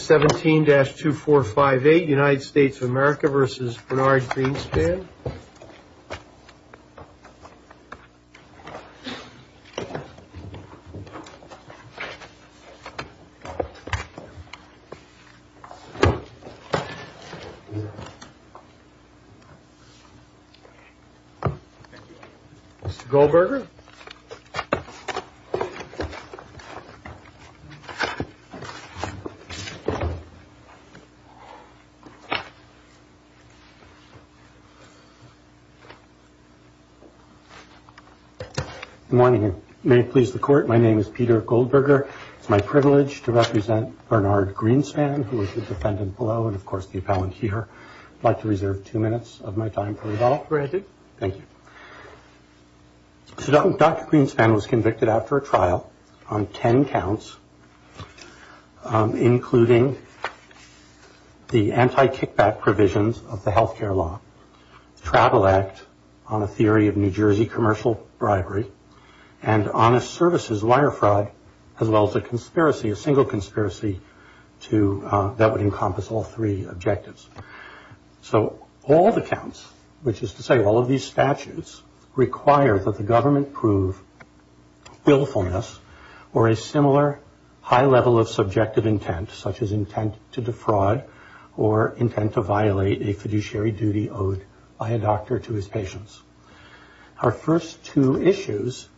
17-2458 United States of America v. Bernard Greenspan Mr. Goldberger Good morning. May it please the court, my name is Peter Goldberger. It's my privilege to represent Bernard Greenspan, who is the defendant below, and of course the appellant here. I'd like to reserve two minutes of my time for rebuttal. Thank you. So Dr. Greenspan was convicted after a trial on ten counts, including the anti-kickback provisions of the health care law, travel act on a theory of New Jersey commercial bribery, and honest services wire fraud, as well as a conspiracy, a single conspiracy that would encompass all three objectives. So all the counts, which is to say all of these statutes, require that the government prove willfulness or a similar high level of subjective intent, such as intent to defraud or intent to violate a fiduciary duty owed by a doctor to his patients. Our first two issues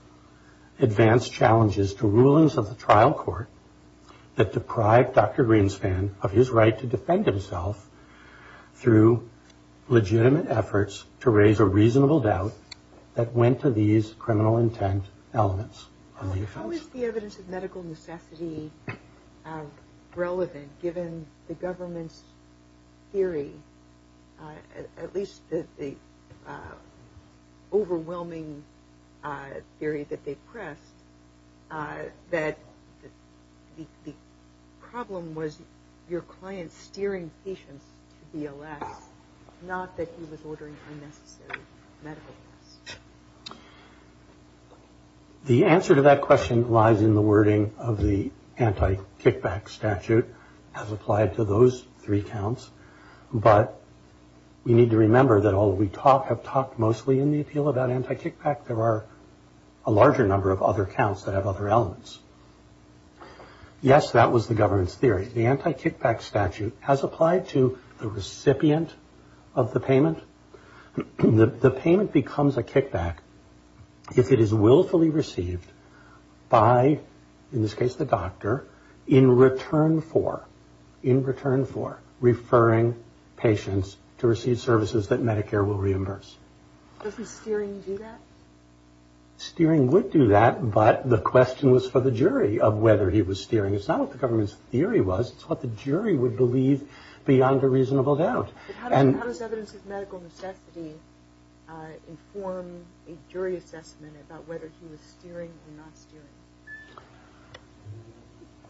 advance challenges to rulings of the trial court that deprived Dr. Greenspan of his right to defend himself through legitimate efforts to raise a reasonable doubt that went to these criminal intent elements. How is the evidence of medical necessity relevant given the government's theory, at least the overwhelming theory that they pressed, that the problem was your client steering patients to be a less, not that he was ordering unnecessary medical costs? The answer to that question lies in the wording of the anti-kickback statute as applied to those three counts, but we need to remember that although we have talked mostly in the appeal about anti-kickback, there are a larger number of other counts that have other elements. Yes, that was the government's theory. The anti-kickback statute as applied to the recipient of the payment, the payment becomes a kickback if it is willfully received by, in this case the doctor, in return for referring patients to receive services that Medicare will reimburse. Doesn't steering do that? Steering would do that, but the question was for the jury of whether he was steering. It's not what the government's theory was, it's what the jury would believe beyond a reasonable doubt. How does evidence of medical necessity inform a jury assessment about whether he was steering or not steering?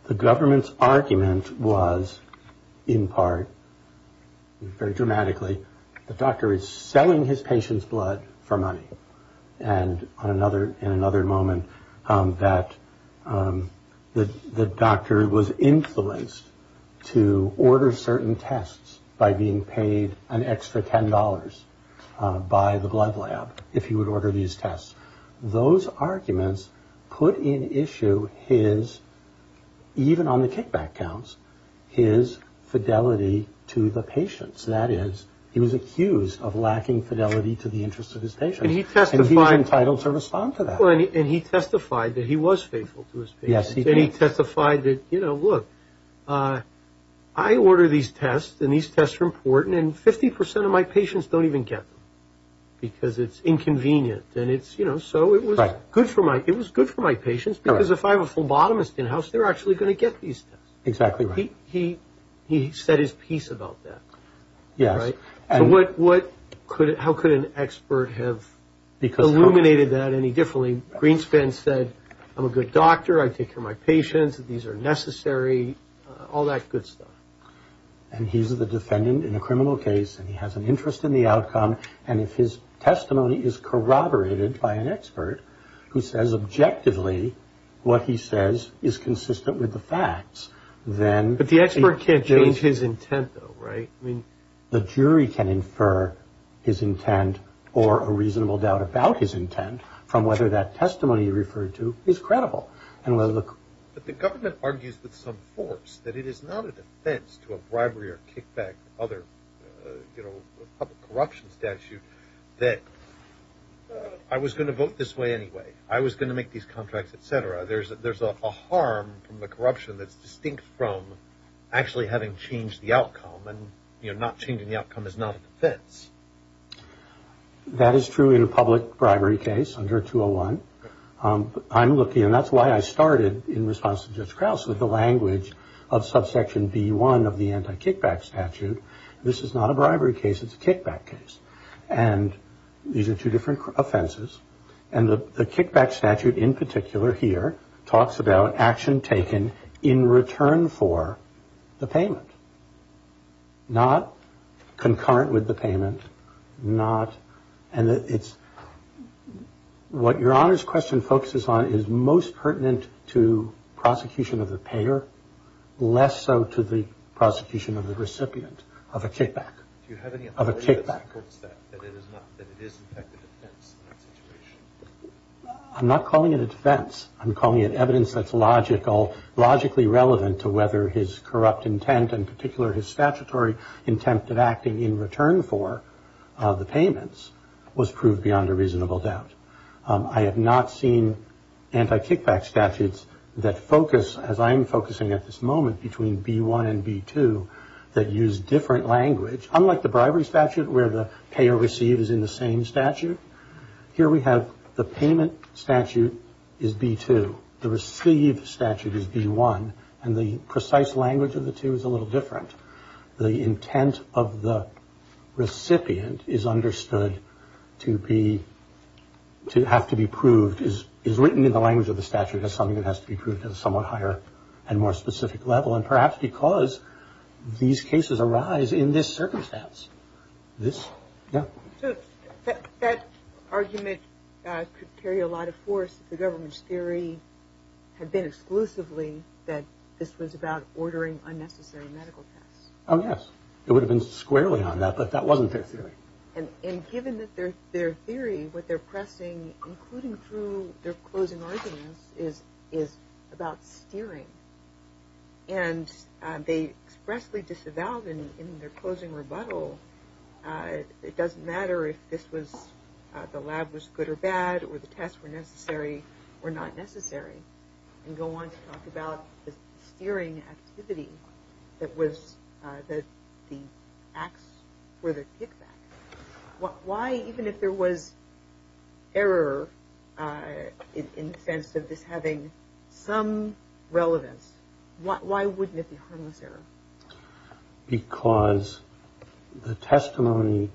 The government's argument was in part, very dramatically, the doctor is selling his patient's blood for money, and in another moment that the doctor was influenced to order certain tests by being paid an extra $10 by the blood lab if he would order these tests. Those arguments put in issue his, even on the kickback counts, his fidelity to the patients. That is, he was accused of lacking fidelity to the interests of his patients, and he was entitled to respond to that. And he testified that he was faithful to his patients, and he testified that, you know, look, I order these tests, and these tests are important, and 50% of my patients don't even get them because it's inconvenient, and it's, you know, so it was good for my patients because if I have a phlebotomist in the house, they're actually going to get these tests. Exactly right. He said his piece about that, right? Yes. So what, how could an expert have illuminated that any differently? Greenspan said, I'm a good doctor, I take care of my patients, these are necessary, all that good stuff. And he's the defendant in a criminal case, and he has an interest in the outcome, and if his testimony is corroborated by an expert who says objectively what he says is consistent with the facts, then... But the expert can't change his intent, though, right? The jury can infer his intent or a reasonable doubt about his intent from whether that testimony you referred to is credible. But the government argues with some force that it is not a defense to a bribery or kickback, other, you know, public corruption statute, that I was going to vote this way anyway, I was going to make these contracts, etc. There's a harm from the corruption that's distinct from actually having changed the outcome, and, you know, not changing the outcome is not a defense. That is true in a public bribery case under 201. I'm looking, and that's why I started in response to Judge Krause with the language of subsection B1 of the anti-kickback statute. This is not a bribery case, it's a kickback case. And these are two different offenses, and the kickback statute in particular here talks about action taken in return for the payment. Not concurrent with the payment, not... And it's... What Your Honor's question focuses on is most pertinent to prosecution of the payer, less so to the prosecution of the recipient of a kickback. Do you have any evidence that supports that, that it is not, that it is, in fact, a defense in that situation? I'm not calling it a defense. I'm calling it evidence that's logical, logically relevant to whether his corrupt intent, in particular his statutory intent of acting in return for the payments, was proved beyond a reasonable doubt. I have not seen anti-kickback statutes that focus, as I am focusing at this moment, between B1 and B2 that use different language, unlike the bribery statute where the payer receives in the same statute. Here we have the payment statute is B2. The received statute is B1. And the precise language of the two is a little different. The intent of the recipient is understood to be, to have to be proved, is written in the language of the statute as something that has to be proved at a somewhat higher and more specific level, and perhaps because these cases arise in this circumstance. This? Yeah. So that argument could carry a lot of force if the government's theory had been exclusively that this was about ordering unnecessary medical tests. Oh, yes. It would have been squarely on that, but that wasn't their theory. And given that their theory, what they're pressing, including through their closing arguments, is about steering. And they expressly disavowed in their closing rebuttal, it doesn't matter if this was, the lab was good or bad, or the tests were necessary or not necessary, and go on to talk about the steering activity that was, that the acts were the kickback. Why, even if there was error in the sense of this having some relevance, why wouldn't it be harmless error? Because the testimony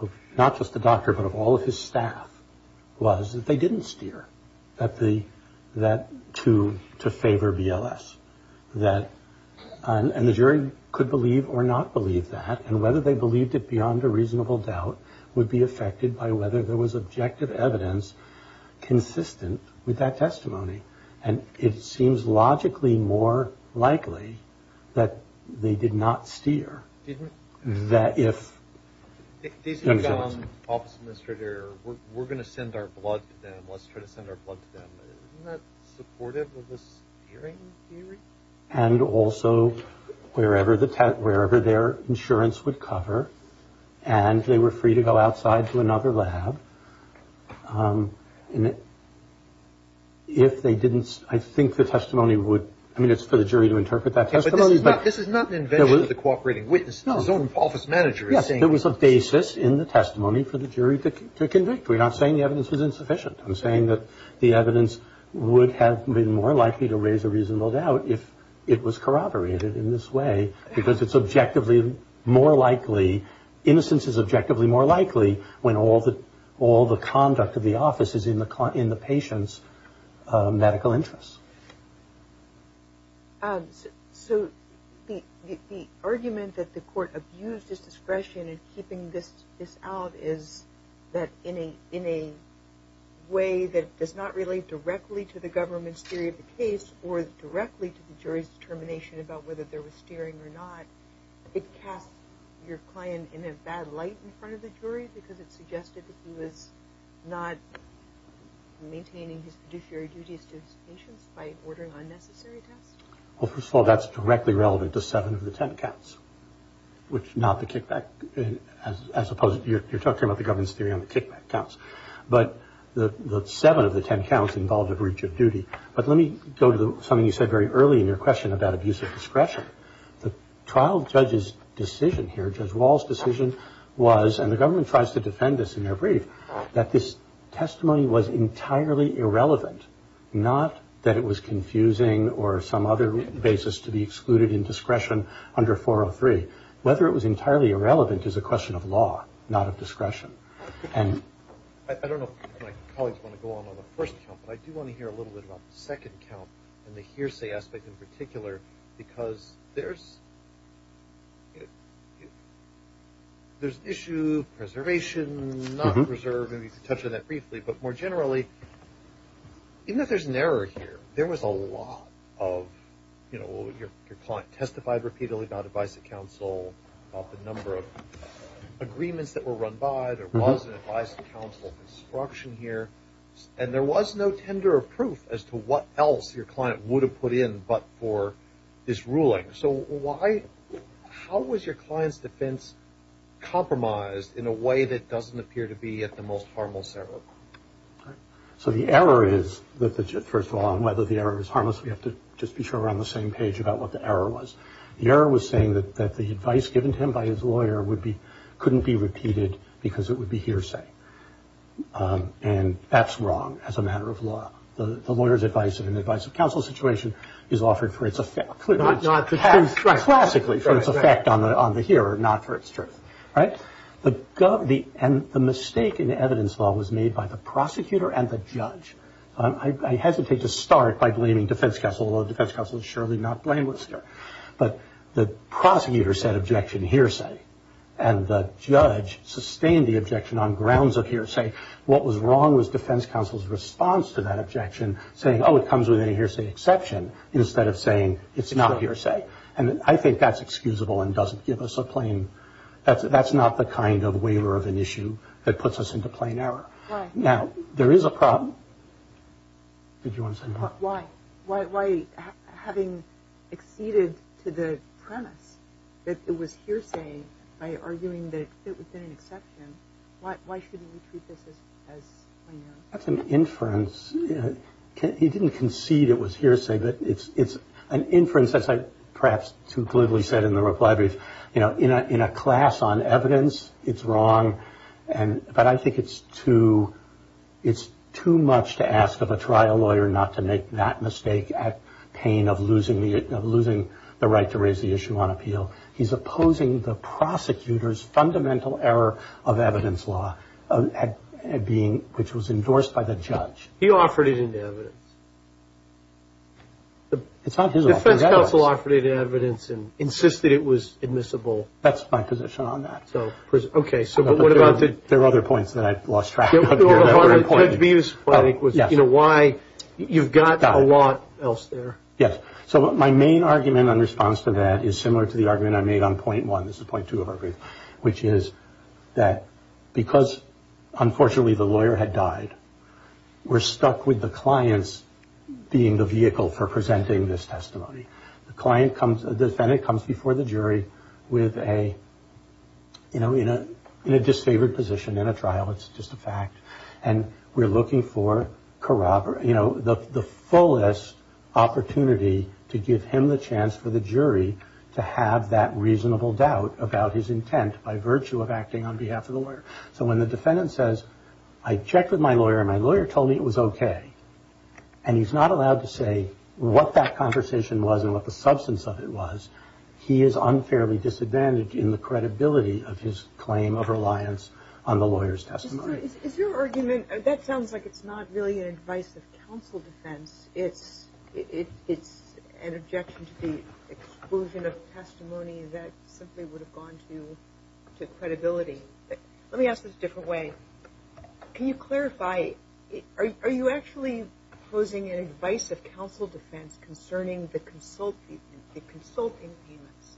of not just the doctor, but of all of his staff, was that they didn't steer to favor BLS. And the jury could believe or not believe that. And whether they believed it beyond a reasonable doubt would be affected by whether there was objective evidence consistent with that testimony. And it seems logically more likely that they did not steer. That if the office administrator, we're going to send our blood to them, let's try to send our blood to them. Isn't that supportive of this hearing? And also wherever the wherever their insurance would cover and they were free to go outside to another lab. And if they didn't, I think the testimony would. I mean, it's for the jury to interpret that. But this is not an invention of the cooperating witness. No. His own office manager is saying. Yes, there was a basis in the testimony for the jury to convict. We're not saying the evidence was insufficient. I'm saying that the evidence would have been more likely to raise a reasonable doubt if it was corroborated in this way. Because it's objectively more likely. Innocence is objectively more likely when all the conduct of the office is in the patient's medical interests. So the argument that the court abused his discretion in keeping this out is that in a way that does not relate directly to the government's theory of the case. Or directly to the jury's determination about whether there was steering or not. It cast your client in a bad light in front of the jury because it suggested that he was not maintaining his fiduciary duties to his patients by ordering unnecessary tests. Well, first of all, that's directly relevant to seven of the 10 counts, which not the kickback. As opposed to you're talking about the government's theory on the kickback counts. But the seven of the 10 counts involved a breach of duty. But let me go to something you said very early in your question about abuse of discretion. The trial judge's decision here, Judge Wall's decision was, and the government tries to defend this in their brief, that this testimony was entirely irrelevant. Not that it was confusing or some other basis to be excluded in discretion under 403. Whether it was entirely irrelevant is a question of law, not of discretion. I don't know if my colleagues want to go on with the first count, but I do want to hear a little bit about the second count and the hearsay aspect in particular. Because there's an issue of preservation, not reserve. Maybe you can touch on that briefly. But more generally, even if there's an error here, there was a lot of, you know, there was an advice to counsel of instruction here. And there was no tender of proof as to what else your client would have put in but for this ruling. So how was your client's defense compromised in a way that doesn't appear to be at the most harmless level? So the error is, first of all, whether the error is harmless, we have to just be sure we're on the same page about what the error was. The error was saying that the advice given to him by his lawyer couldn't be repeated because it would be hearsay. And that's wrong as a matter of law. The lawyer's advice in an advice of counsel situation is offered for its effect. Not the truth. Classically for its effect on the hearer, not for its truth. Right? And the mistake in the evidence law was made by the prosecutor and the judge. I hesitate to start by blaming defense counsel, although defense counsel is surely not blameless here. But the prosecutor said objection hearsay and the judge sustained the objection on grounds of hearsay. What was wrong was defense counsel's response to that objection saying, oh, it comes with a hearsay exception, instead of saying it's not hearsay. And I think that's excusable and doesn't give us a plain – that's not the kind of waiver of an issue that puts us into plain error. Right. Now, there is a problem. Did you want to say more? Why? Having acceded to the premise that it was hearsay by arguing that it would have been an exception, why shouldn't we treat this as plain error? That's an inference. He didn't concede it was hearsay, but it's an inference. That's perhaps too glibly said in the reply brief. In a class on evidence, it's wrong. But I think it's too much to ask of a trial lawyer not to make that mistake at pain of losing the right to raise the issue on appeal. He's opposing the prosecutor's fundamental error of evidence law, which was endorsed by the judge. He offered it in evidence. It's not his offer. The defense counsel offered it in evidence and insisted it was admissible. That's my position on that. Okay. So what about the – There were other points that I lost track of. Judge Bevis' point was, you know, why – you've got a lot else there. Yes. So my main argument in response to that is similar to the argument I made on point one – this is point two of our brief – which is that because, unfortunately, the lawyer had died, we're stuck with the clients being the vehicle for presenting this testimony. The client comes – the defendant comes before the jury with a – you know, in a disfavored position in a trial. It's just a fact. And we're looking for, you know, the fullest opportunity to give him the chance for the jury to have that reasonable doubt about his intent by virtue of acting on behalf of the lawyer. So when the defendant says, I checked with my lawyer and my lawyer told me it was okay, and he's not allowed to say what that conversation was and what the substance of it was, he is unfairly disadvantaged in the credibility of his claim of reliance on the lawyer's testimony. Is your argument – that sounds like it's not really an advice of counsel defense. It's an objection to the exclusion of testimony that simply would have gone to credibility. Let me ask this a different way. Can you clarify, are you actually posing an advice of counsel defense concerning the consulting payments?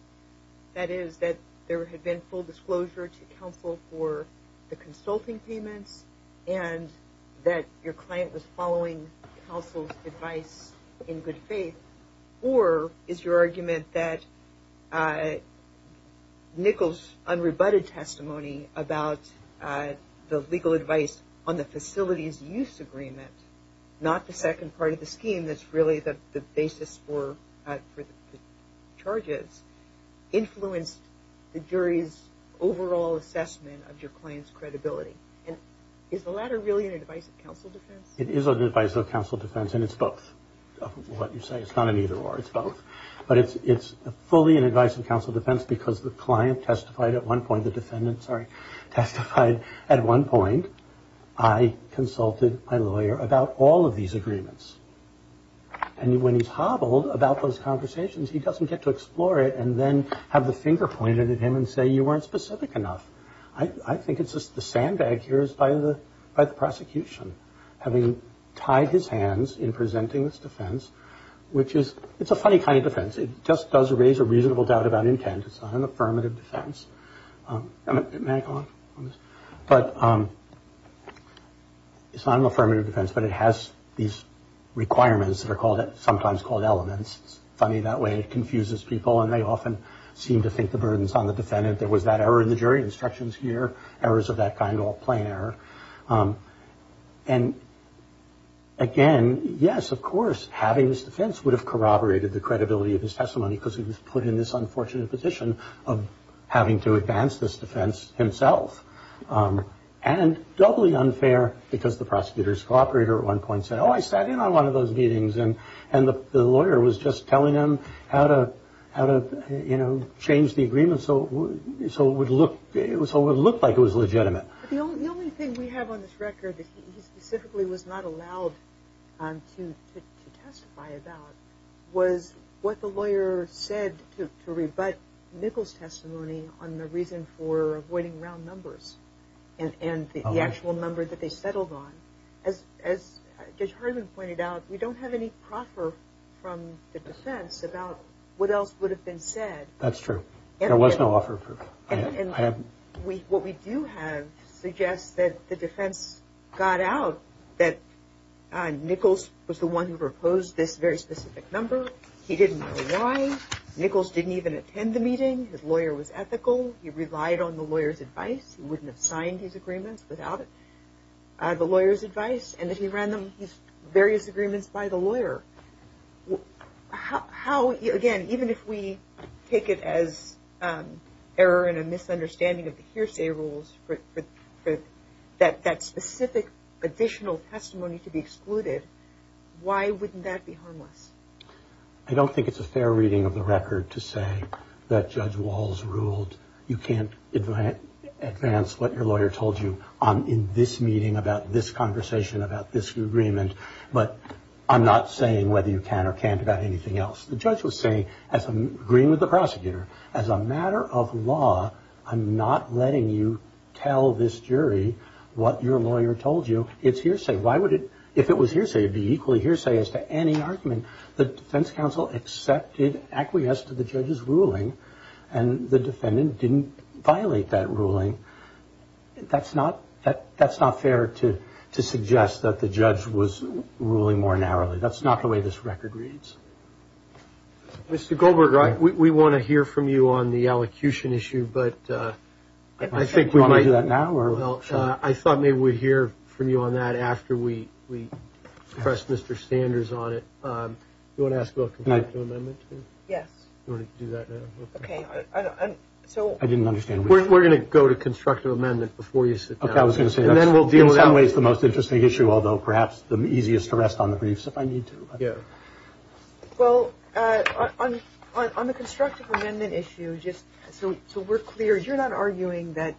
That is, that there had been full disclosure to counsel for the consulting payments and that your client was following counsel's advice in good faith? Or is your argument that Nichols' unrebutted testimony about the legal advice on the facilities use agreement, not the second part of the scheme that's really the basis for the charges, influenced the jury's overall assessment of your client's credibility? And is the latter really an advice of counsel defense? It is an advice of counsel defense, and it's both of what you say. It's not an either or, it's both. But it's fully an advice of counsel defense because the client testified at one point, the defendant testified at one point, I consulted my lawyer about all of these agreements. And when he's hobbled about those conversations, he doesn't get to explore it and then have the finger pointed at him and say you weren't specific enough. I think it's just the sandbag here is by the prosecution, having tied his hands in presenting this defense, which is – it's a funny kind of defense. It just does raise a reasonable doubt about intent. It's not an affirmative defense. It's not an affirmative defense, but it has these requirements that are sometimes called elements. It's funny that way. It confuses people, and they often seem to think the burden's on the defendant. There was that error in the jury instructions here, errors of that kind, all plain error. And again, yes, of course, having this defense would have corroborated the credibility of his testimony because he was put in this unfortunate position of having to advance this defense himself. And doubly unfair because the prosecutor's cooperator at one point said, oh, I sat in on one of those meetings, and the lawyer was just telling him how to change the agreement so it would look like it was legitimate. The only thing we have on this record that he specifically was not allowed to testify about was what the lawyer said to rebut Nichols' testimony on the reason for avoiding round numbers and the actual number that they settled on. As Judge Hartman pointed out, we don't have any proffer from the defense about what else would have been said. That's true. There was no offer. And what we do have suggests that the defense got out that Nichols was the one who proposed this very specific number. He didn't know why. Nichols didn't even attend the meeting. His lawyer was ethical. He relied on the lawyer's advice. He wouldn't have signed his agreements without the lawyer's advice, and that he ran these various agreements by the lawyer. How, again, even if we take it as error and a misunderstanding of the hearsay rules for that specific additional testimony to be excluded, why wouldn't that be harmless? I don't think it's a fair reading of the record to say that Judge Walls ruled you can't advance what your lawyer told you in this meeting about this conversation, about this agreement. But I'm not saying whether you can or can't about anything else. The judge was saying, agreeing with the prosecutor, as a matter of law, I'm not letting you tell this jury what your lawyer told you. It's hearsay. If it was hearsay, it would be equally hearsay as to any argument. The defense counsel accepted acquiesce to the judge's ruling, and the defendant didn't violate that ruling. That's not fair to suggest that the judge was ruling more narrowly. That's not the way this record reads. Mr. Goldberg, we want to hear from you on the elocution issue, but I think we might. Do you want to do that now? Well, I thought maybe we'd hear from you on that after we press Mr. Sanders on it. Do you want to ask about competitive amendment? Yes. Do you want to do that now? Okay. I didn't understand. We're going to go to constructive amendment before you sit down. Okay, I was going to say that's in some ways the most interesting issue, although perhaps the easiest to rest on the briefs if I need to. Yeah. Well, on the constructive amendment issue, just so we're clear, you're not arguing that,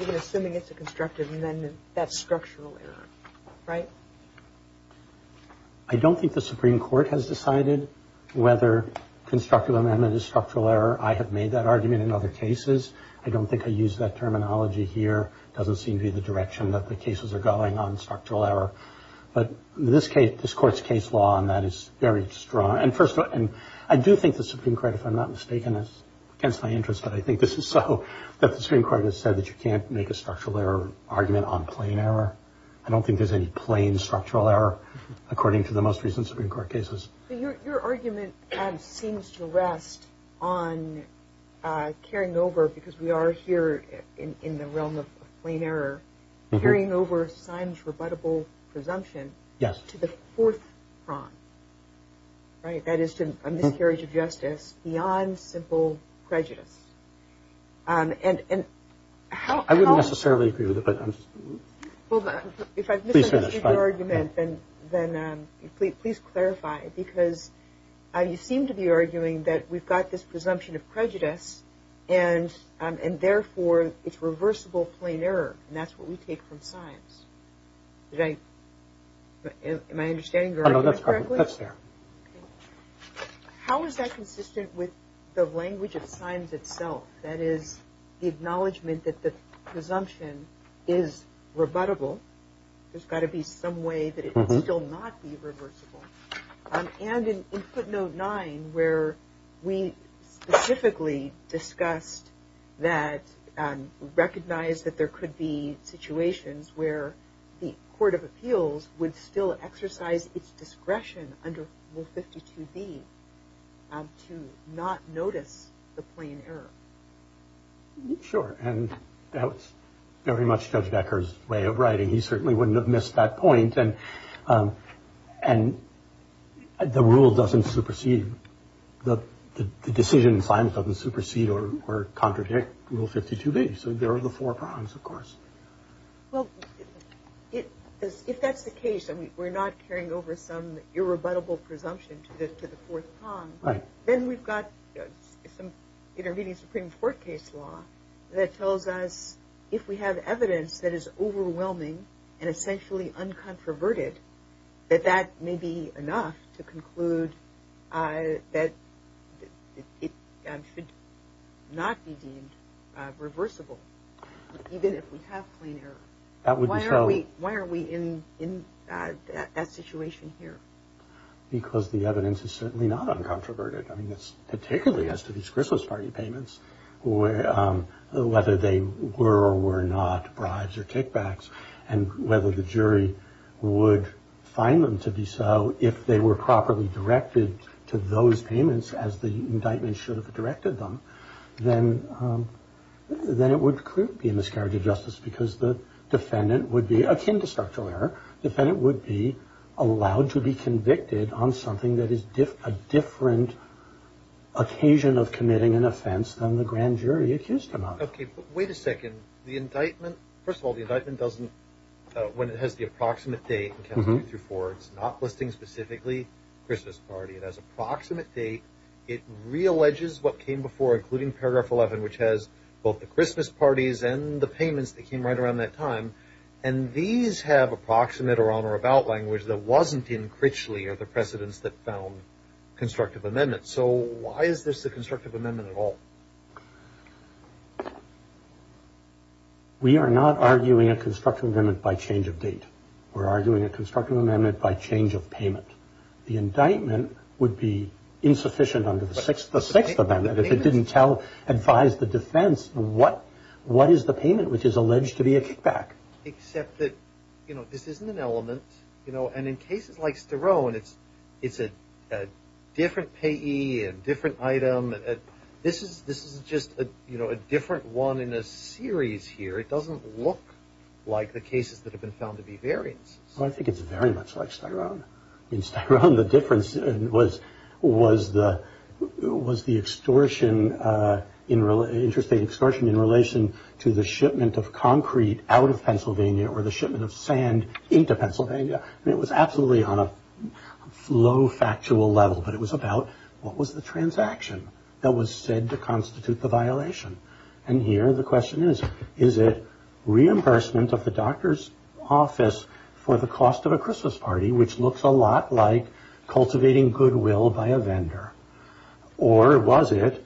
even assuming it's a constructive amendment, that's structural error, right? I don't think the Supreme Court has decided whether constructive amendment is structural error. I have made that argument in other cases. I don't think I use that terminology here. It doesn't seem to be the direction that the cases are going on structural error. But this Court's case law on that is very strong. And I do think the Supreme Court, if I'm not mistaken, against my interest, but I think this is so, that the Supreme Court has said that you can't make a structural error argument on plain error. I don't think there's any plain structural error, according to the most recent Supreme Court cases. Your argument seems to rest on carrying over, because we are here in the realm of plain error, carrying over Simon's rebuttable presumption to the fourth prong, right? That is to a miscarriage of justice beyond simple prejudice. I wouldn't necessarily agree with it. Well, if I've misunderstood your argument, then please clarify. Because you seem to be arguing that we've got this presumption of prejudice, and therefore it's reversible plain error, and that's what we take from signs. Am I understanding your argument correctly? No, that's fair. How is that consistent with the language of signs itself? That is the acknowledgment that the presumption is rebuttable. There's got to be some way that it can still not be reversible. And in footnote nine, where we specifically discussed that, recognized that there could be situations where the Court of Appeals would still exercise its discretion under Rule 52B to not notice the plain error. Sure, and that was very much Judge Becker's way of writing. He certainly wouldn't have missed that point. And the rule doesn't supersede, the decision in signs doesn't supersede or contradict Rule 52B. So there are the four prongs, of course. Well, if that's the case, and we're not carrying over some irrebuttable presumption to the fourth prong, then we've got some intervening Supreme Court case law that tells us if we have evidence that is overwhelming and essentially uncontroverted, that that may be enough to conclude that it should not be deemed reversible. Even if we have plain error. That would be true. Why are we in that situation here? Because the evidence is certainly not uncontroverted. I mean, particularly as to these Christmas party payments, whether they were or were not bribes or kickbacks, and whether the jury would find them to be so if they were properly directed to those payments as the indictment should have directed them, then it would clearly be a miscarriage of justice because the defendant would be, akin to structural error, the defendant would be allowed to be convicted on something that is a different occasion of committing an offense than the grand jury accused him of. Okay, but wait a second. The indictment, first of all, the indictment doesn't, when it has the approximate date, it's not listing specifically Christmas party. It has approximate date. It realleges what came before, including paragraph 11, which has both the Christmas parties and the payments that came right around that time, and these have approximate or on or about language that wasn't in Critchley or the precedents that found constructive amendments. So why is this a constructive amendment at all? We are not arguing a constructive amendment by change of date. We're arguing a constructive amendment by change of payment. The indictment would be insufficient under the sixth amendment if it didn't tell, advise the defense what is the payment which is alleged to be a kickback. Except that, you know, this isn't an element, you know, and in cases like Sterone it's a different payee, a different item. This is just, you know, a different one in a series here. It doesn't look like the cases that have been found to be variants. Well, I think it's very much like Sterone. In Sterone the difference was the extortion, interstate extortion, in relation to the shipment of concrete out of Pennsylvania or the shipment of sand into Pennsylvania. I mean, it was absolutely on a low factual level, but it was about what was the transaction that was said to constitute the violation. And here the question is, is it reimbursement of the doctor's office for the cost of a Christmas party, which looks a lot like cultivating goodwill by a vendor, or was it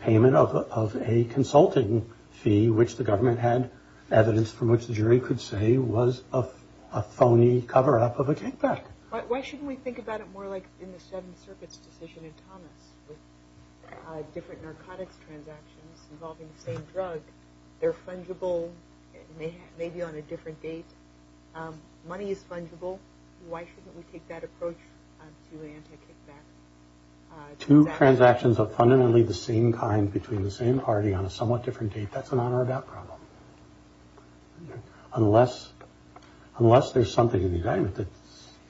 payment of a consulting fee, which the government had evidence from which the jury could say was a phony cover-up of a kickback? Why shouldn't we think about it more like in the Seventh Circuit's decision in Thomas, with different narcotics transactions involving the same drug, they're fungible, maybe on a different date. Money is fungible. Why shouldn't we take that approach to anti-kickback transactions? Two transactions of fundamentally the same kind between the same party on a somewhat different date, that's an on-or-about problem. Unless there's something in the indictment that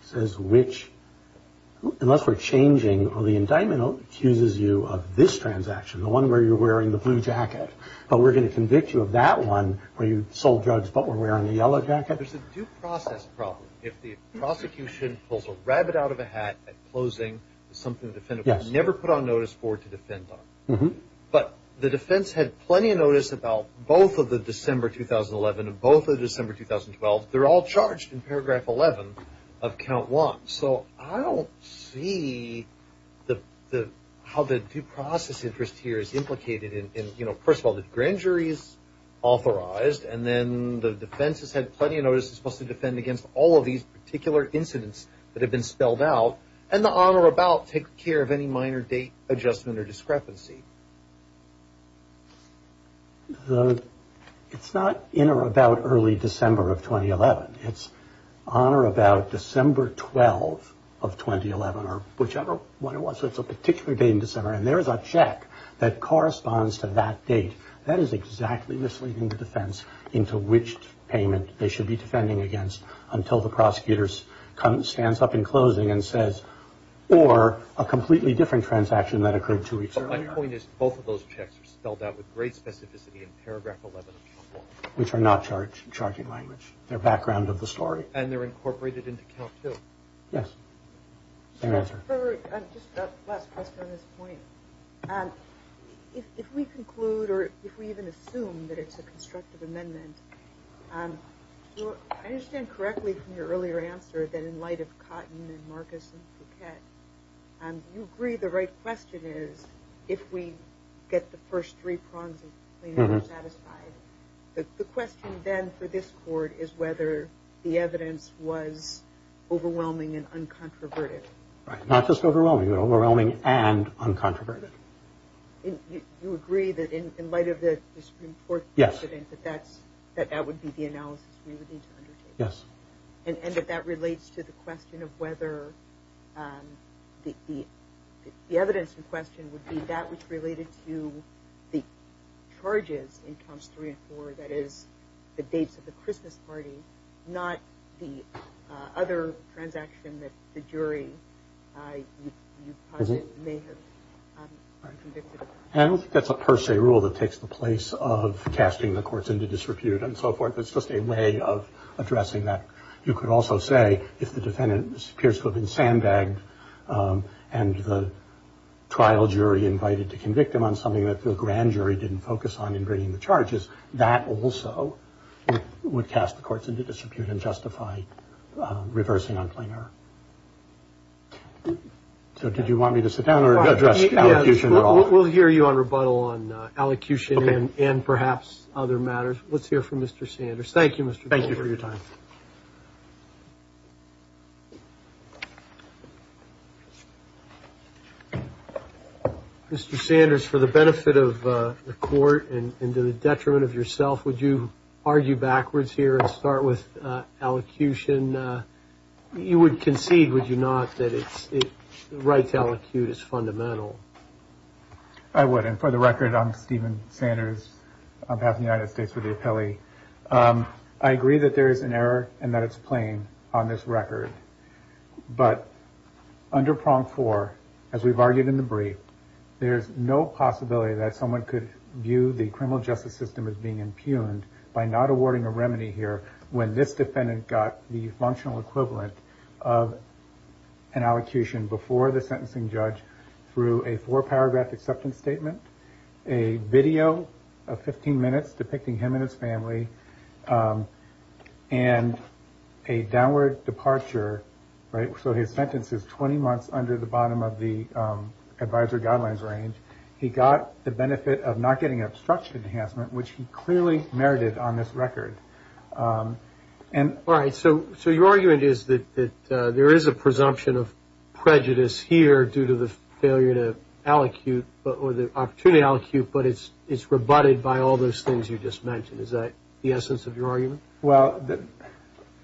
says which, unless we're changing the indictment that accuses you of this transaction, the one where you're wearing the blue jacket, but we're going to convict you of that one where you sold drugs but were wearing the yellow jacket? There's a due process problem. If the prosecution pulls a rabbit out of a hat at closing, it's something the defendant would never put on notice for to defend on. But the defense had plenty of notice about both of the December 2011 and both of the December 2012. They're all charged in paragraph 11 of count one. So I don't see how the due process interest here is implicated. First of all, the grand jury is authorized, and then the defense has had plenty of notice and is supposed to defend against all of these particular incidents that have been spelled out, and the on-or-about takes care of any minor date adjustment or discrepancy. It's not in or about early December of 2011. It's on or about December 12 of 2011 or whichever one it was. So it's a particular date in December, and there is a check that corresponds to that date. That is exactly misleading the defense into which payment they should be defending against until the prosecutor stands up in closing and says, or a completely different transaction that occurred two weeks earlier. But my point is both of those checks are spelled out with great specificity in paragraph 11 of count one. Which are not charged in charging language. They're background of the story. And they're incorporated into count two. Yes. Just a last question on this point. If we conclude or if we even assume that it's a constructive amendment, I understand correctly from your earlier answer that in light of Cotton and Marcus and Phuket, you agree the right question is if we get the first three prongs of claimant satisfied. The question then for this court is whether the evidence was overwhelming and uncontroverted. Right. Not just overwhelming, but overwhelming and uncontroverted. You agree that in light of the Supreme Court precedent that that would be the analysis we would need to undertake. Yes. And that that relates to the question of whether the evidence in question would be that which related to the charges in counts three and four. That is the dates of the Christmas party. Not the other transaction that the jury may have been convicted of. I don't think that's a per se rule that takes the place of casting the courts into disrepute and so forth. It's just a way of addressing that. You could also say if the defendant appears to have been sandbagged and the trial jury invited to convict him on something that the grand jury didn't focus on in bringing the charges, that also would cast the courts into disrepute and justify reversing on plainer. So did you want me to sit down or address the issue at all? We'll hear you on rebuttal on allocution and perhaps other matters. Let's hear from Mr. Sanders. Thank you, Mr. Thank you for your time. Thank you. Mr. Sanders, for the benefit of the court and to the detriment of yourself, would you argue backwards here and start with allocution? You would concede, would you not, that it's right to allocute is fundamental? I would. And for the record, I'm Stephen Sanders. I have the United States with the appellee. I agree that there is an error and that it's plain on this record. But under prong four, as we've argued in the brief, there's no possibility that someone could view the criminal justice system as being impugned by not awarding a remedy here when this defendant got the functional equivalent of an allocution before the sentencing judge through a four-paragraph acceptance statement, a video of 15 minutes depicting him and his family, and a downward departure. So his sentence is 20 months under the bottom of the advisory guidelines range. He got the benefit of not getting obstruction enhancement, which he clearly merited on this record. All right. So your argument is that there is a presumption of prejudice here due to the opportunity to allocute, but it's rebutted by all those things you just mentioned. Is that the essence of your argument? Well,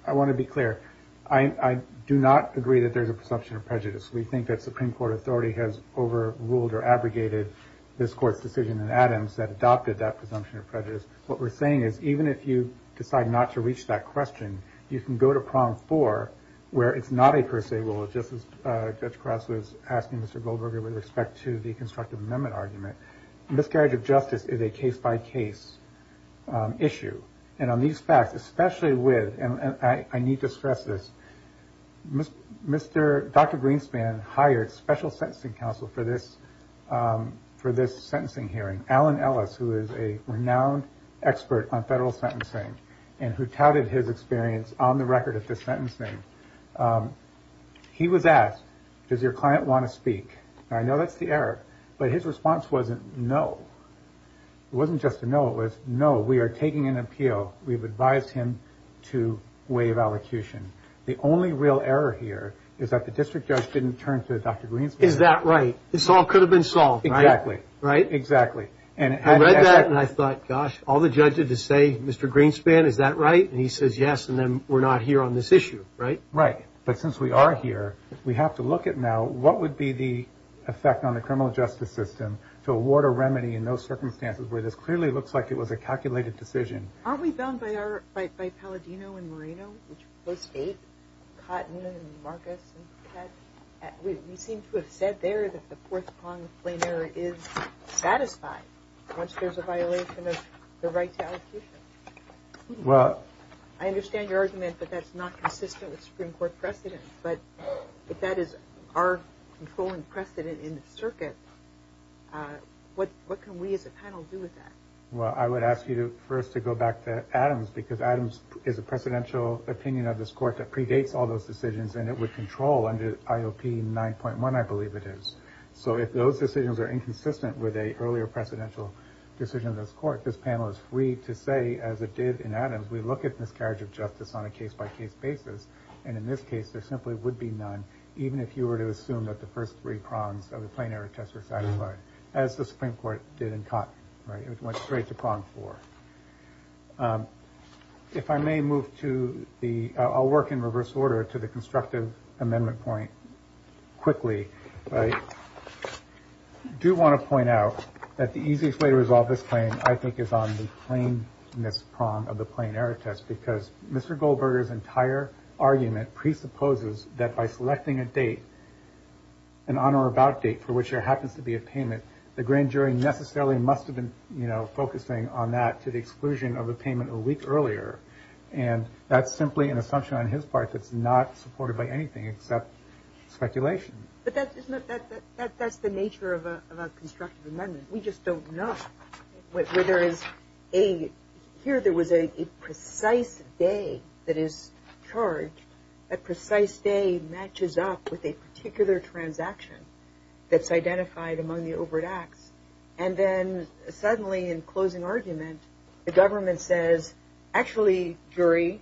I want to be clear. I do not agree that there's a presumption of prejudice. We think that Supreme Court authority has overruled or abrogated this court's decision in Adams that adopted that presumption of prejudice. What we're saying is even if you decide not to reach that question, you can go to prong four, where it's not a per se rule. Just as Judge Krause was asking Mr. Goldberger with respect to the constructive amendment argument, miscarriage of justice is a case-by-case issue. And on these facts, especially with, and I need to stress this, Dr. Greenspan hired special sentencing counsel for this sentencing hearing, Alan Ellis, who is a renowned expert on federal sentencing and who touted his experience on the record at this sentencing. He was asked, does your client want to speak? I know that's the error, but his response wasn't no. It wasn't just a no, it was no, we are taking an appeal. We've advised him to waive allocution. The only real error here is that the district judge didn't turn to Dr. Greenspan. Is that right? This all could have been solved. Exactly. Right? Exactly. I read that and I thought, gosh, all the judges to say, Mr. Greenspan, is that right? And he says yes, and then we're not here on this issue. Right? Right. But since we are here, we have to look at now what would be the effect on the criminal justice system to award a remedy in those circumstances where this clearly looks like it was a calculated decision. Aren't we bound by Palladino and Moreno, which postdate Cotton and Marcus and Pat? We seem to have said there that the fourth prong of plain error is satisfied once there's a violation of the right to allocation. I understand your argument, but that's not consistent with Supreme Court precedent. But if that is our controlling precedent in the circuit, what can we as a panel do with that? Well, I would ask you first to go back to Adams because Adams is a precedential opinion of this court that predates all those decisions and it would control under IOP 9.1, I believe it is. So if those decisions are inconsistent with an earlier precedential decision of this court, this panel is free to say, as it did in Adams, we look at miscarriage of justice on a case-by-case basis. And in this case, there simply would be none, even if you were to assume that the first three prongs of the plain error test were satisfied, as the Supreme Court did in Cotton. It went straight to prong four. If I may move to the – I'll work in reverse order to the constructive amendment point quickly. I do want to point out that the easiest way to resolve this claim, I think, is on the plainness prong of the plain error test because Mr. Goldberger's entire argument presupposes that by selecting a date, an on or about date for which there happens to be a payment, the grand jury necessarily must have been, you know, focusing on that to the exclusion of the payment a week earlier. And that's simply an assumption on his part that's not supported by anything except speculation. But that's the nature of a constructive amendment. We just don't know where there is a – here there was a precise day that is charged. That precise day matches up with a particular transaction that's identified among the overt acts. And then suddenly in closing argument, the government says, actually, jury,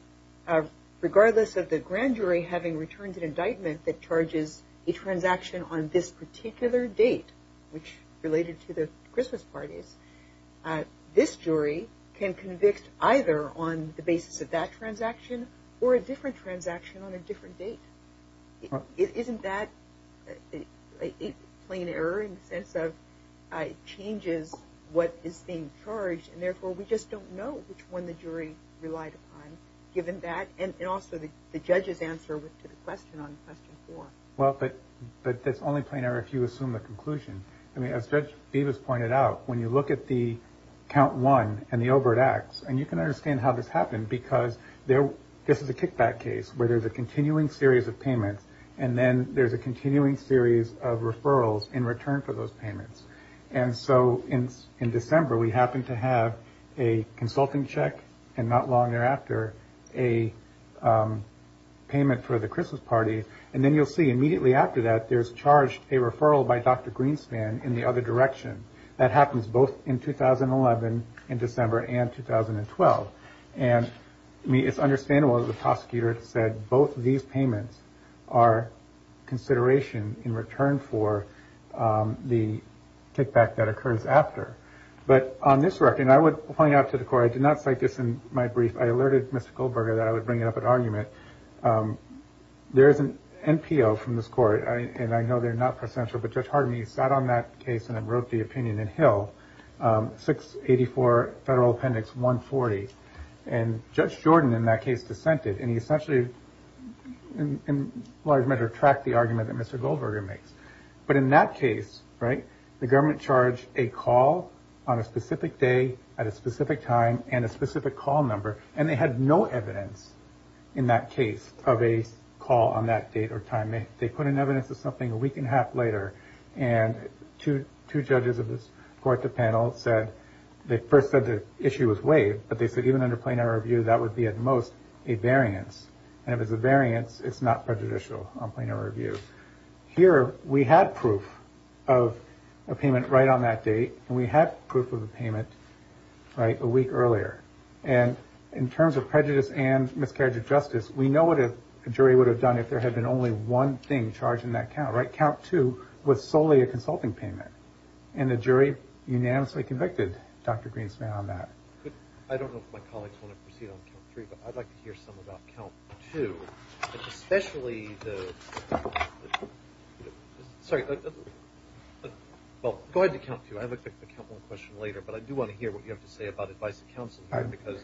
regardless of the grand jury having returned an indictment that charges a transaction on this particular date, which related to the Christmas parties, this jury can convict either on the basis of that transaction or a different transaction on a different date. Isn't that a plain error in the sense of it changes what is being charged and therefore we just don't know which one the jury relied upon given that? And also the judge's answer to the question on question four. Well, but that's only plain error if you assume the conclusion. I mean, as Judge Bevis pointed out, when you look at the count one and the overt acts, and you can understand how this happened because this is a kickback case where there's a continuing series of payments and then there's a continuing series of referrals in return for those payments. And so in December we happened to have a consulting check and not long thereafter a payment for the Christmas party. And then you'll see immediately after that there's charged a referral by Dr. Greenspan in the other direction. That happens both in 2011 in December and 2012. And it's understandable the prosecutor said both of these payments are consideration in return for the kickback that occurs after. But on this record, and I would point out to the court, I did not cite this in my brief. I alerted Mr. Goldberger that I would bring up an argument. There is an NPO from this court, and I know they're not presidential, but Judge Harden, he sat on that case and wrote the opinion in Hill, 684 Federal Appendix 140. And Judge Jordan in that case dissented and he essentially, in large measure, tracked the argument that Mr. Goldberger makes. But in that case, right, the government charged a call on a specific day at a specific time and a specific call number, and they had no evidence in that case of a call on that date or time. They put in evidence of something a week and a half later. And two judges of this court, the panel, said they first said the issue was waived, but they said even under planar review that would be at most a variance. And if it's a variance, it's not prejudicial on planar review. Here we had proof of a payment right on that date, and we had proof of a payment a week earlier. And in terms of prejudice and miscarriage of justice, we know what a jury would have done if there had been only one thing charged in that count. Count two was solely a consulting payment, and the jury unanimously convicted Dr. Greenspan on that. I don't know if my colleagues want to proceed on count three, but I'd like to hear some about count two, especially the – sorry. Well, go ahead to count two. I have a couple of questions later, but I do want to hear what you have to say about advice to counsel here, because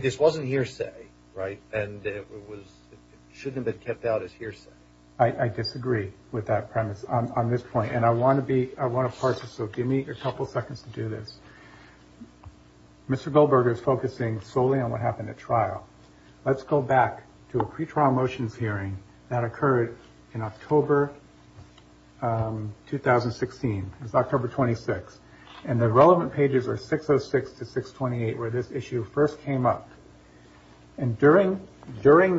this wasn't hearsay, right? And it shouldn't have been kept out as hearsay. I disagree with that premise on this point, and I want to be – I want to parse it, so give me a couple seconds to do this. Mr. Goldberger is focusing solely on what happened at trial. Let's go back to a pretrial motions hearing that occurred in October 2016. It was October 26, and the relevant pages are 606 to 628, where this issue first came up. And during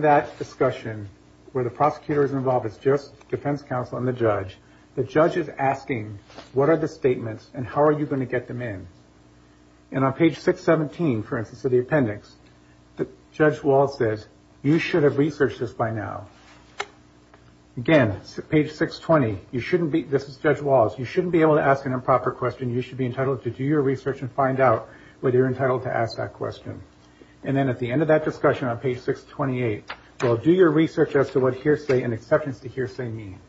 that discussion, where the prosecutor is involved, it's just defense counsel and the judge. The judge is asking, what are the statements, and how are you going to get them in? And on page 617, for instance, of the appendix, Judge Walz says, you should have researched this by now. Again, page 620, you shouldn't be – this is Judge Walz. You shouldn't be able to ask an improper question. You should be entitled to do your research and find out whether you're entitled to ask that question. And then at the end of that discussion on page 628, well, do your research as to what hearsay and exceptions to hearsay mean.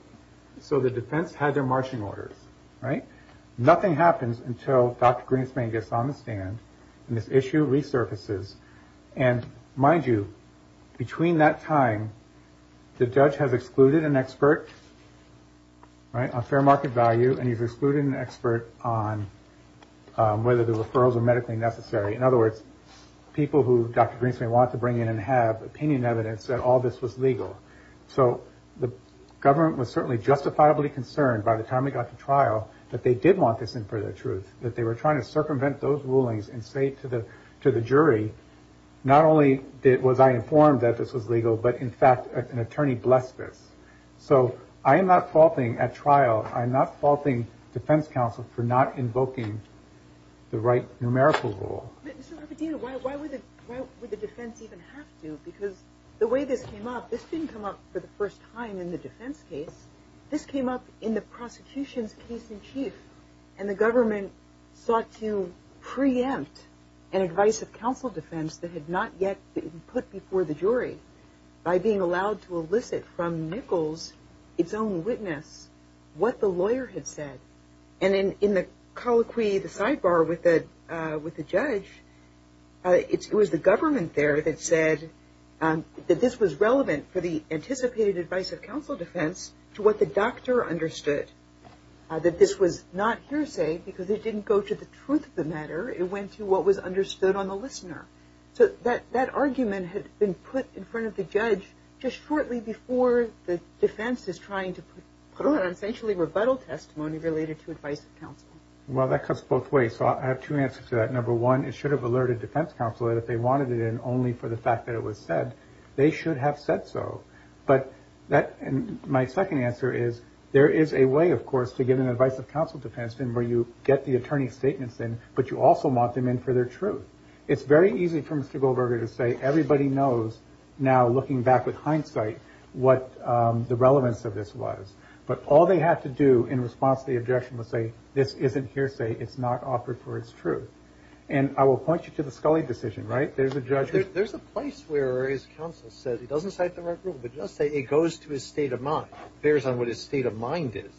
So the defense had their marching orders, right? Nothing happens until Dr. Greenspan gets on the stand, and this issue resurfaces. And mind you, between that time, the judge has excluded an expert on fair market value, and he's excluded an expert on whether the referrals are medically necessary. In other words, people who Dr. Greenspan wanted to bring in and have opinion evidence that all this was legal. So the government was certainly justifiably concerned by the time they got to trial that they did want this in for their truth, that they were trying to circumvent those rulings and say to the jury, not only was I informed that this was legal, but in fact an attorney blessed this. So I am not faulting at trial, I am not faulting defense counsel for not invoking the right numerical rule. Why would the defense even have to? Because the way this came up, this didn't come up for the first time in the defense case, this came up in the prosecution's case in chief. And the government sought to preempt an advice of counsel defense that had not yet been put before the jury by being allowed to elicit from Nichols its own witness what the lawyer had said. And in the colloquy, the sidebar with the judge, it was the government there that said that this was relevant for the anticipated advice of counsel defense to what the doctor understood, that this was not hearsay because it didn't go to the truth of the matter, it went to what was understood on the listener. So that argument had been put in front of the judge just shortly before the defense is trying to put it on essentially rebuttal testimony related to advice of counsel. Well, that goes both ways. So I have two answers to that. Number one, it should have alerted defense counsel that if they wanted it in only for the fact that it was said, they should have said so. But my second answer is there is a way, of course, to get an advice of counsel defense in where you get the attorney's statements in, but you also want them in for their truth. It's very easy for Mr. Goldberger to say everybody knows now looking back with hindsight what the relevance of this was. But all they have to do in response to the objection was say this isn't hearsay. It's not offered for its truth. And I will point you to the Scully decision, right? There's a judge. There's a place where his counsel said he doesn't cite the right rule, but he does say it goes to his state of mind. It bears on what his state of mind is.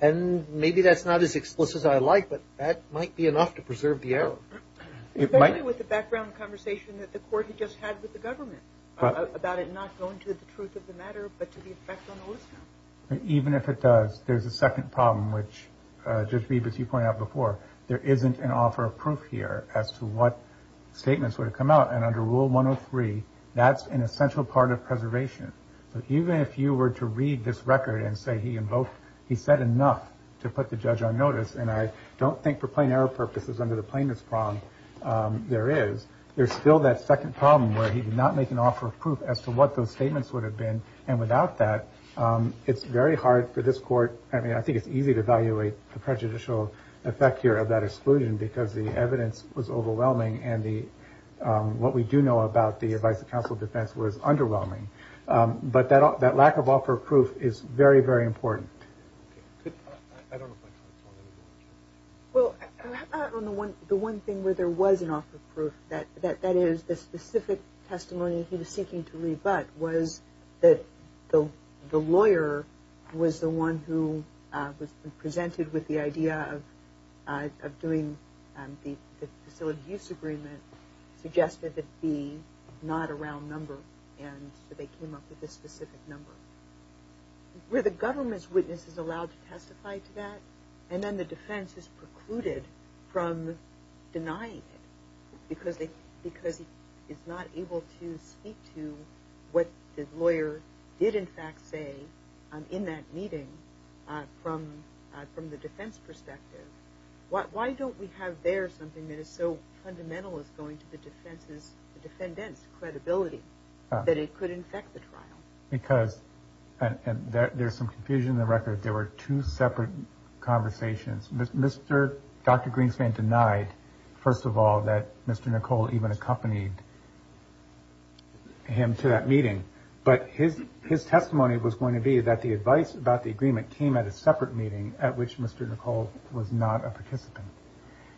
And maybe that's not as explicit as I like, but that might be enough to preserve the error. It might be with the background conversation that the court had just had with the government about it not going to the truth of the matter, but to the effect on the listener. Even if it does, there's a second problem, which, Judge Beebe, as you pointed out before, there isn't an offer of proof here as to what statements would have come out. And under Rule 103, that's an essential part of preservation. But even if you were to read this record and say he said enough to put the judge on notice, and I don't think for plain error purposes under the plainness problem there is, there's still that second problem where he did not make an offer of proof as to what those statements would have been. And without that, it's very hard for this court. I mean, I think it's easy to evaluate the prejudicial effect here of that exclusion because the evidence was overwhelming, and what we do know about the advice of counsel of defense was underwhelming. But that lack of offer of proof is very, very important. I don't know if I answered all of your questions. Well, the one thing where there was an offer of proof, that is the specific testimony he was seeking to leave but, was that the lawyer was the one who was presented with the idea of doing the facility use agreement, suggested that B, not a round number, and so they came up with this specific number. Were the government's witnesses allowed to testify to that? And then the defense is precluded from denying it because it's not able to speak to what the lawyer did in fact say in that meeting from the defense perspective. Why don't we have there something that is so fundamental as going to the defendant's credibility that it could infect the trial? Because there's some confusion in the record. There were two separate conversations. Dr. Greenspan denied, first of all, that Mr. Nicole even accompanied him to that meeting, but his testimony was going to be that the advice about the agreement came at a separate meeting at which Mr. Nicole was not a participant.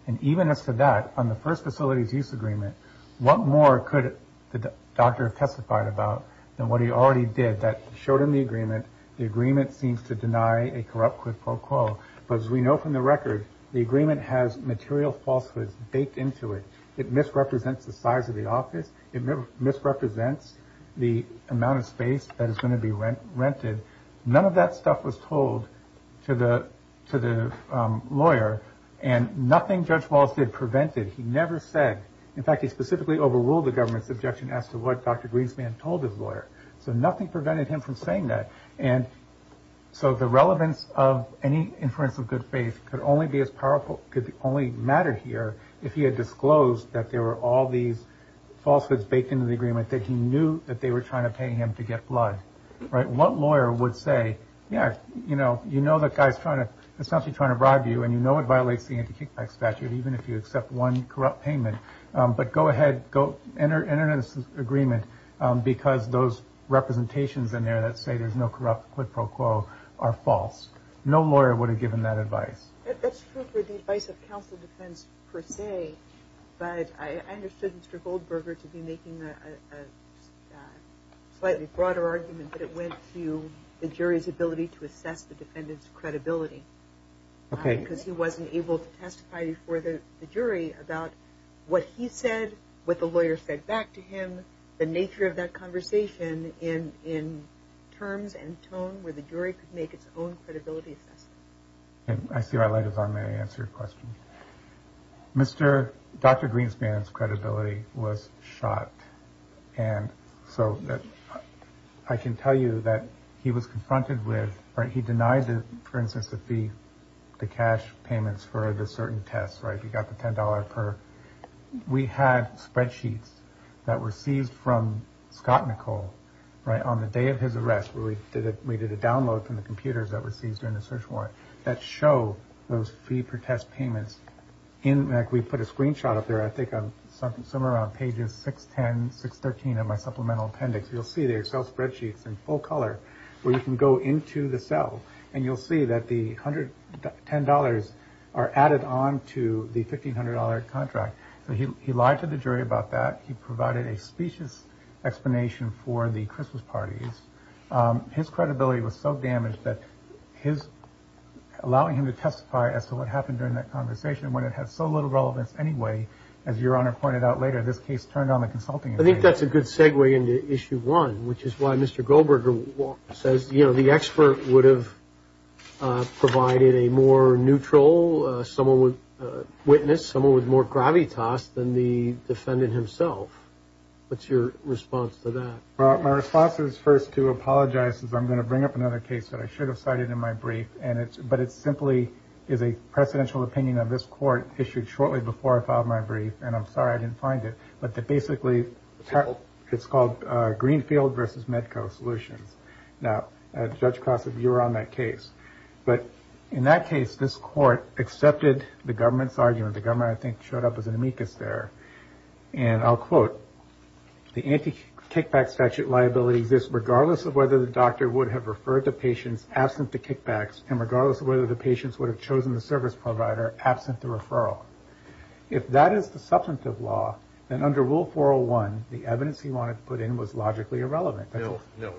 And even as to that, on the first facilities use agreement, what more could the doctor have testified about than what he already did? That showed him the agreement. The agreement seems to deny a corrupt quid pro quo. But as we know from the record, the agreement has material falsehoods baked into it. It misrepresents the size of the office. It misrepresents the amount of space that is going to be rented. None of that stuff was told to the lawyer, and nothing Judge Wallace did prevented. He never said. In fact, he specifically overruled the government's objection as to what Dr. Greenspan told his lawyer. So nothing prevented him from saying that. And so the relevance of any inference of good faith could only matter here if he had disclosed that there were all these falsehoods baked into the agreement that he knew that they were trying to pay him to get blood. What lawyer would say, yeah, you know the guy is essentially trying to bribe you and you know it violates the anti-kickback statute even if you accept one corrupt payment. But go ahead, enter into this agreement because those representations in there that say there's no corrupt quid pro quo are false. No lawyer would have given that advice. That's true for the advice of counsel defense per se, but I understood Mr. Goldberger to be making a slightly broader argument that it went to the jury's ability to assess the defendant's credibility. Okay. Because he wasn't able to testify before the jury about what he said, what the lawyer said back to him, the nature of that conversation in terms and tone where the jury could make its own credibility assessment. I see my light is on when I answer your question. Mr. Dr. Greenspan's credibility was shot. And so I can tell you that he was confronted with, he denied, for instance, the fee, the cash payments for the certain tests. He got the $10 per. We had spreadsheets that were seized from Scott Nicole on the day of his arrest where we did a download from the computers that were seized during the search warrant that show those fee per test payments. We put a screenshot up there, I think somewhere around pages 610, 613 of my supplemental appendix. You'll see the Excel spreadsheets in full color where you can go into the cell and you'll see that the $110 are added on to the $1,500 contract. So he lied to the jury about that. He provided a specious explanation for the Christmas parties. His credibility was so damaged that his allowing him to testify as to what happened during that conversation when it had so little relevance anyway, as Your Honor pointed out later, this case turned on the consulting. I think that's a good segue into issue one, which is why Mr. Goldberger says, you know, the expert would have provided a more neutral witness, someone with more gravitas than the defendant himself. What's your response to that? Well, my response is first to apologize because I'm going to bring up another case that I should have cited in my brief, but it simply is a presidential opinion of this court issued shortly before I filed my brief, and I'm sorry I didn't find it. But basically it's called Greenfield v. Medco Solutions. Now, Judge Cross, if you were on that case. But in that case, this court accepted the government's argument. The government, I think, showed up as an amicus there, and I'll quote, the anti-kickback statute liability exists regardless of whether the doctor would have referred the patient absent the kickbacks and regardless of whether the patient would have chosen the service provider absent the referral. If that is the substantive law, then under Rule 401, the evidence he wanted to put in was logically irrelevant. No, no.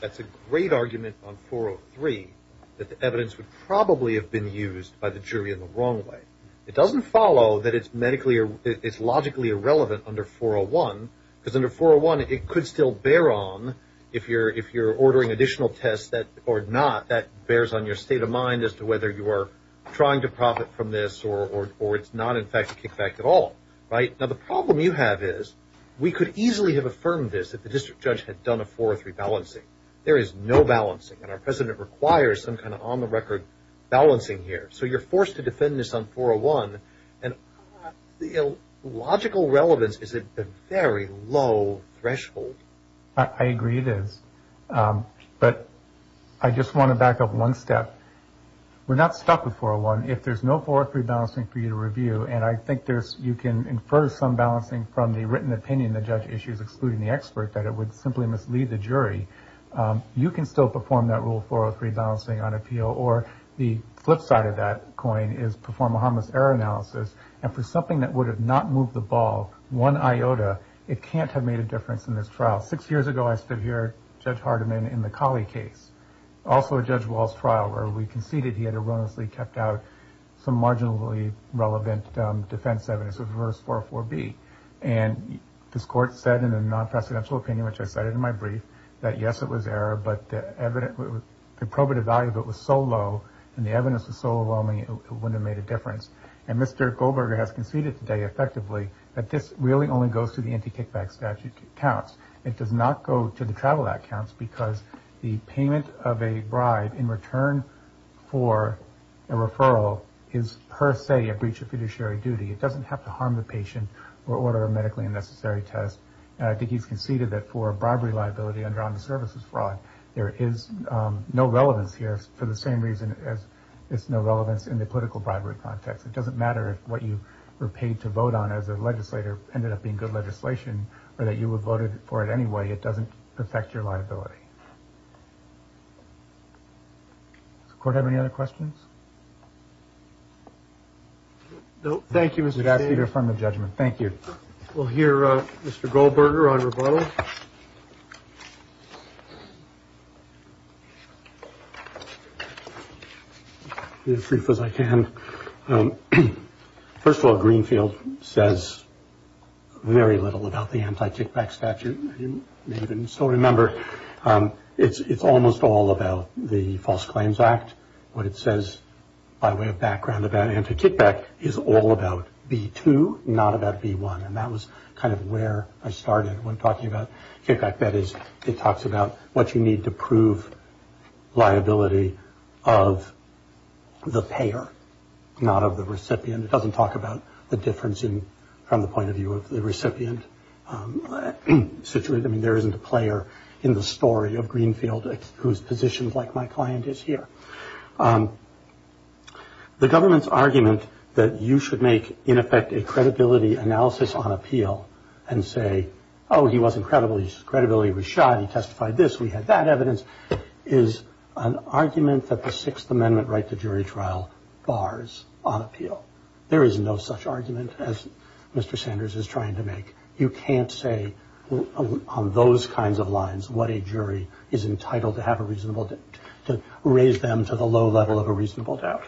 That's a great argument on 403 that the evidence would probably have been used by the jury in the wrong way. It doesn't follow that it's logically irrelevant under 401 because under 401, it could still bear on if you're ordering additional tests or not. That bears on your state of mind as to whether you are trying to profit from this or it's not, in fact, a kickback at all. Now, the problem you have is we could easily have affirmed this if the district judge had done a 403 balancing. There is no balancing, and our president requires some kind of on-the-record balancing here. So you're forced to defend this on 401, and logical relevance is at a very low threshold. I agree it is. But I just want to back up one step. We're not stuck with 401. If there's no 403 balancing for you to review, and I think you can infer some balancing from the written opinion the judge issues, excluding the expert, that it would simply mislead the jury, you can still perform that Rule 403 balancing on appeal, or the flip side of that coin is perform a harmless error analysis, and for something that would have not moved the ball one iota, it can't have made a difference in this trial. Six years ago I stood here, Judge Hardiman, in the Colley case, also a Judge Wall's trial where we conceded he had erroneously kept out some marginally relevant defense evidence of Reverse 404B. And this Court said in a non-presidential opinion, which I cited in my brief, that yes, it was error, but the probative value of it was so low, and the evidence was so overwhelming, it wouldn't have made a difference. And Mr. Goldberger has conceded today, effectively, that this really only goes through the anti-kickback statute counts. It does not go to the travel act counts, because the payment of a bribe in return for a referral is per se a breach of fiduciary duty. It doesn't have to harm the patient or order a medically unnecessary test. And I think he's conceded that for a bribery liability under on the services fraud, there is no relevance here, for the same reason as there's no relevance in the political bribery context. It doesn't matter if what you were paid to vote on as a legislator ended up being good legislation or that you would have voted for it anyway. It doesn't affect your liability. Does the Court have any other questions? No, thank you, Mr. Chief. We'd ask you to affirm the judgment. Thank you. We'll hear Mr. Goldberger on rebuttal. I'll be as brief as I can. First of all, Greenfield says very little about the anti-kickback statute. You may even still remember it's almost all about the False Claims Act. What it says by way of background about anti-kickback is all about B2, not about B1. And that was kind of where I started when talking about kickback. That is, it talks about what you need to prove liability of the payer, not of the recipient. It doesn't talk about the difference from the point of view of the recipient. I mean, there isn't a player in the story of Greenfield whose position, like my client, is here. The government's argument that you should make, in effect, a credibility analysis on appeal and say, oh, he wasn't credible, his credibility was shot, he testified this, we had that evidence, is an argument that the Sixth Amendment right to jury trial bars on appeal. There is no such argument as Mr. Sanders is trying to make. You can't say on those kinds of lines what a jury is entitled to have a reasonable – to raise them to the low level of a reasonable doubt.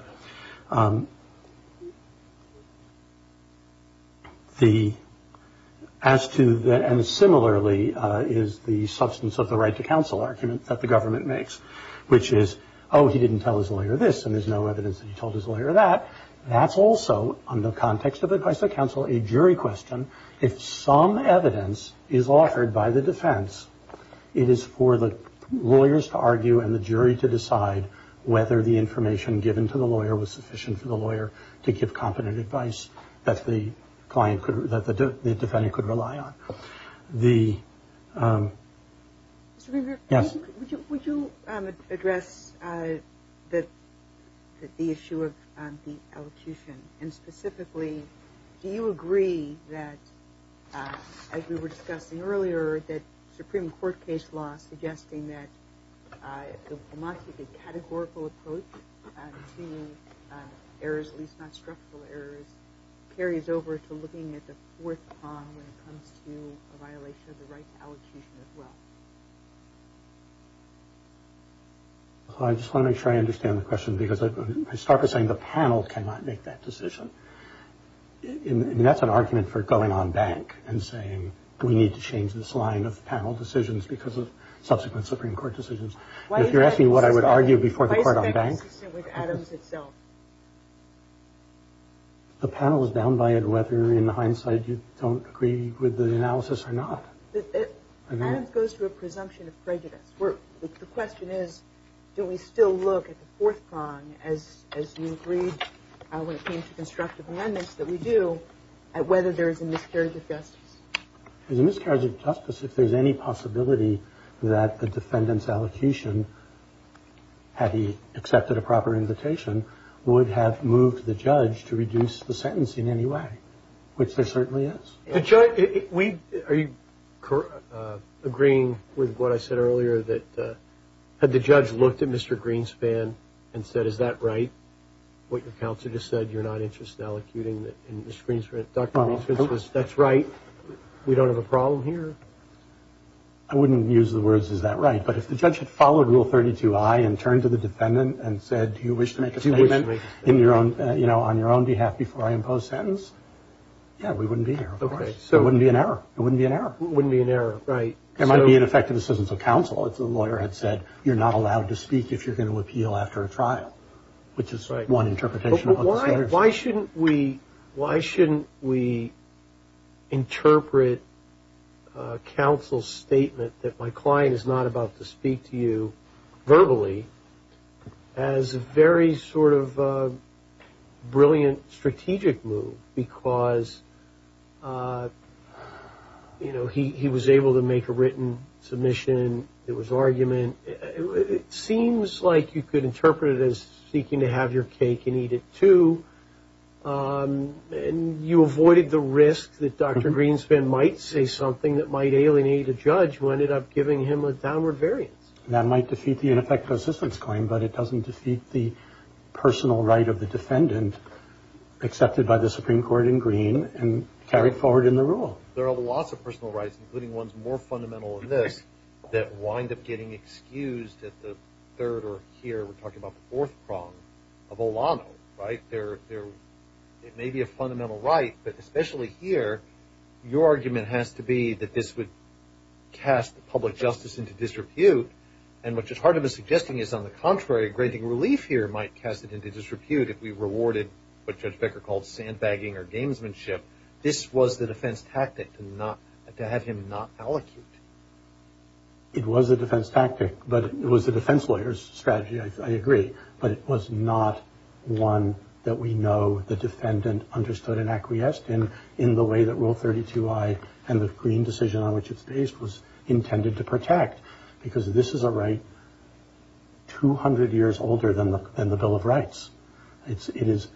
And similarly is the substance of the right to counsel argument that the government makes, which is, oh, he didn't tell his lawyer this, and there's no evidence that he told his lawyer that. That's also, under context of advice to counsel, a jury question. If some evidence is offered by the defense, it is for the lawyers to argue and the jury to decide whether the information given to the lawyer was sufficient for the lawyer to give competent advice that the defendant could rely on. Yes? Would you address the issue of the elocution? And specifically, do you agree that, as we were discussing earlier, that Supreme Court case law suggesting that a categorical approach to errors, at least not structural errors, carries over to looking at the fourth prong when it comes to a violation of the right to elocution as well? I just want to make sure I understand the question, because I start by saying the panel cannot make that decision. And that's an argument for going on bank and saying, we need to change this line of panel decisions because of subsequent Supreme Court decisions. If you're asking what I would argue before the court on bank? Why is that consistent with Adams itself? The panel is down by it whether, in hindsight, you don't agree with the analysis or not. Adams goes to a presumption of prejudice. The question is, do we still look at the fourth prong, as you agreed when it came to constructive amendments that we do, at whether there is a miscarriage of justice? There's a miscarriage of justice if there's any possibility that the defendant's elocution, had he accepted a proper invitation, would have moved the judge to reduce the sentence in any way, which there certainly is. Are you agreeing with what I said earlier, that had the judge looked at Mr. Greenspan and said, is that right, what your counsel just said, you're not interested in elocuting, and Dr. Greenspan says, that's right, we don't have a problem here? I wouldn't use the words, is that right? But if the judge had followed Rule 32I and turned to the defendant and said, do you wish to make a statement on your own behalf before I impose sentence? Yeah, we wouldn't be here, of course. It wouldn't be an error. It wouldn't be an error. It wouldn't be an error, right. It might be an effective assistance of counsel if the lawyer had said, you're not allowed to speak if you're going to appeal after a trial, which is one interpretation of the statute. Why shouldn't we interpret counsel's statement that my client is not about to speak to you verbally as a very sort of brilliant strategic move because he was able to make a written submission, it was argument. It seems like you could interpret it as seeking to have your cake and eat it too, and you avoided the risk that Dr. Greenspan might say something that might alienate a judge who ended up giving him a downward variance. That might defeat the ineffective assistance claim, but it doesn't defeat the personal right of the defendant accepted by the Supreme Court in Green and carried forward in the rule. There are lots of personal rights, including ones more fundamental than this, that wind up getting excused at the third or here, we're talking about the fourth prong of Olano, right. It may be a fundamental right, but especially here, your argument has to be that this would cast public justice into disrepute, and which is part of the suggesting is on the contrary, granting relief here might cast it into disrepute if we rewarded what Judge Becker called sandbagging or gamesmanship, this was the defense tactic to have him not allocated. It was a defense tactic, but it was a defense lawyer's strategy, I agree, but it was not one that we know the defendant understood and acquiesced in, in the way that Rule 32I and the Green decision on which it's based was intended to protect, because this is a right 200 years older than the Bill of Rights. It is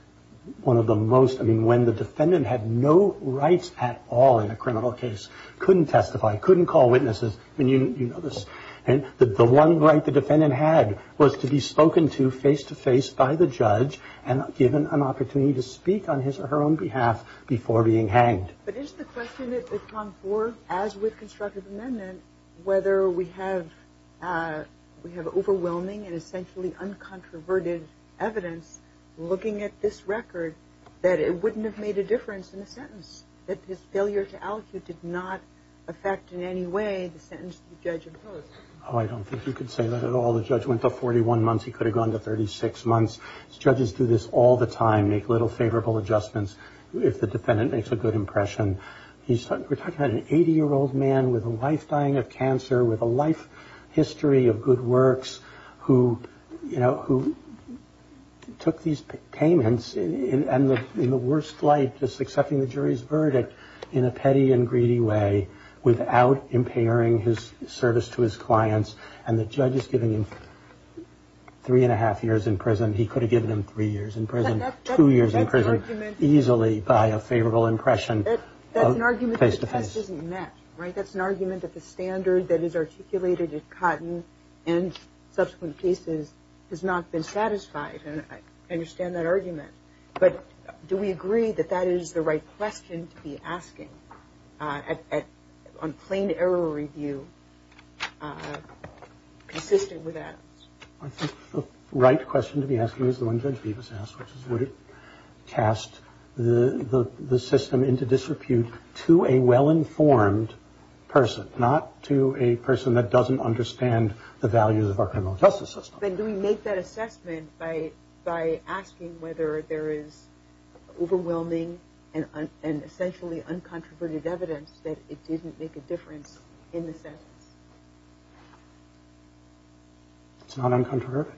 one of the most, I mean, when the defendant had no rights at all in a criminal case, couldn't testify, couldn't call witnesses, and you know this, and the one right the defendant had was to be spoken to face-to-face by the judge and given an opportunity to speak on his or her own behalf before being hanged. But is the question at prong four, as with constructive amendment, whether we have overwhelming and essentially uncontroverted evidence looking at this record that it wouldn't have made a difference in the sentence, that his failure to allocate did not affect in any way the sentence the judge imposed? Oh, I don't think you could say that at all. The judge went to 41 months, he could have gone to 36 months. Judges do this all the time, make little favorable adjustments if the defendant makes a good impression. We're talking about an 80-year-old man with a life dying of cancer, with a life history of good works, who took these payments in the worst light, just accepting the jury's verdict in a petty and greedy way, without impairing his service to his clients, and the judge is giving him three and a half years in prison. He could have given him three years in prison, two years in prison, easily by a favorable impression face-to-face. That's an argument that the test isn't met, right? That's an argument that the standard that is articulated in Cotton and subsequent cases has not been satisfied, and I understand that argument. But do we agree that that is the right question to be asking on plain error review, consistent with Adams? I think the right question to be asking is the one Judge Bevis asked, which is would it cast the system into disrepute to a well-informed person, not to a person that doesn't understand the values of our criminal justice system. Then do we make that assessment by asking whether there is overwhelming and essentially uncontroverted evidence that it didn't make a difference in the sentence? It's not uncontroverted.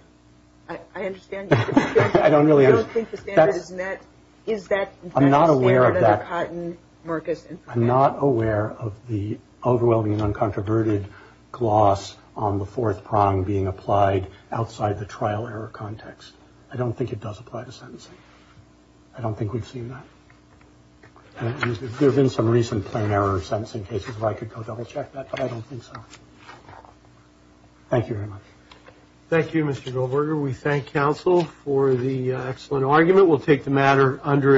I understand. I don't really understand. I don't think the standard is met. I'm not aware of that. I'm not aware of the overwhelming and uncontroverted gloss on the fourth prong being applied outside the trial error context. I don't think it does apply to sentencing. I don't think we've seen that. There have been some recent plain error sentencing cases where I could go double check that, but I don't think so. Thank you very much. Thank you, Mr. Goldberger. We thank counsel for the excellent argument. We'll take the matter under its own.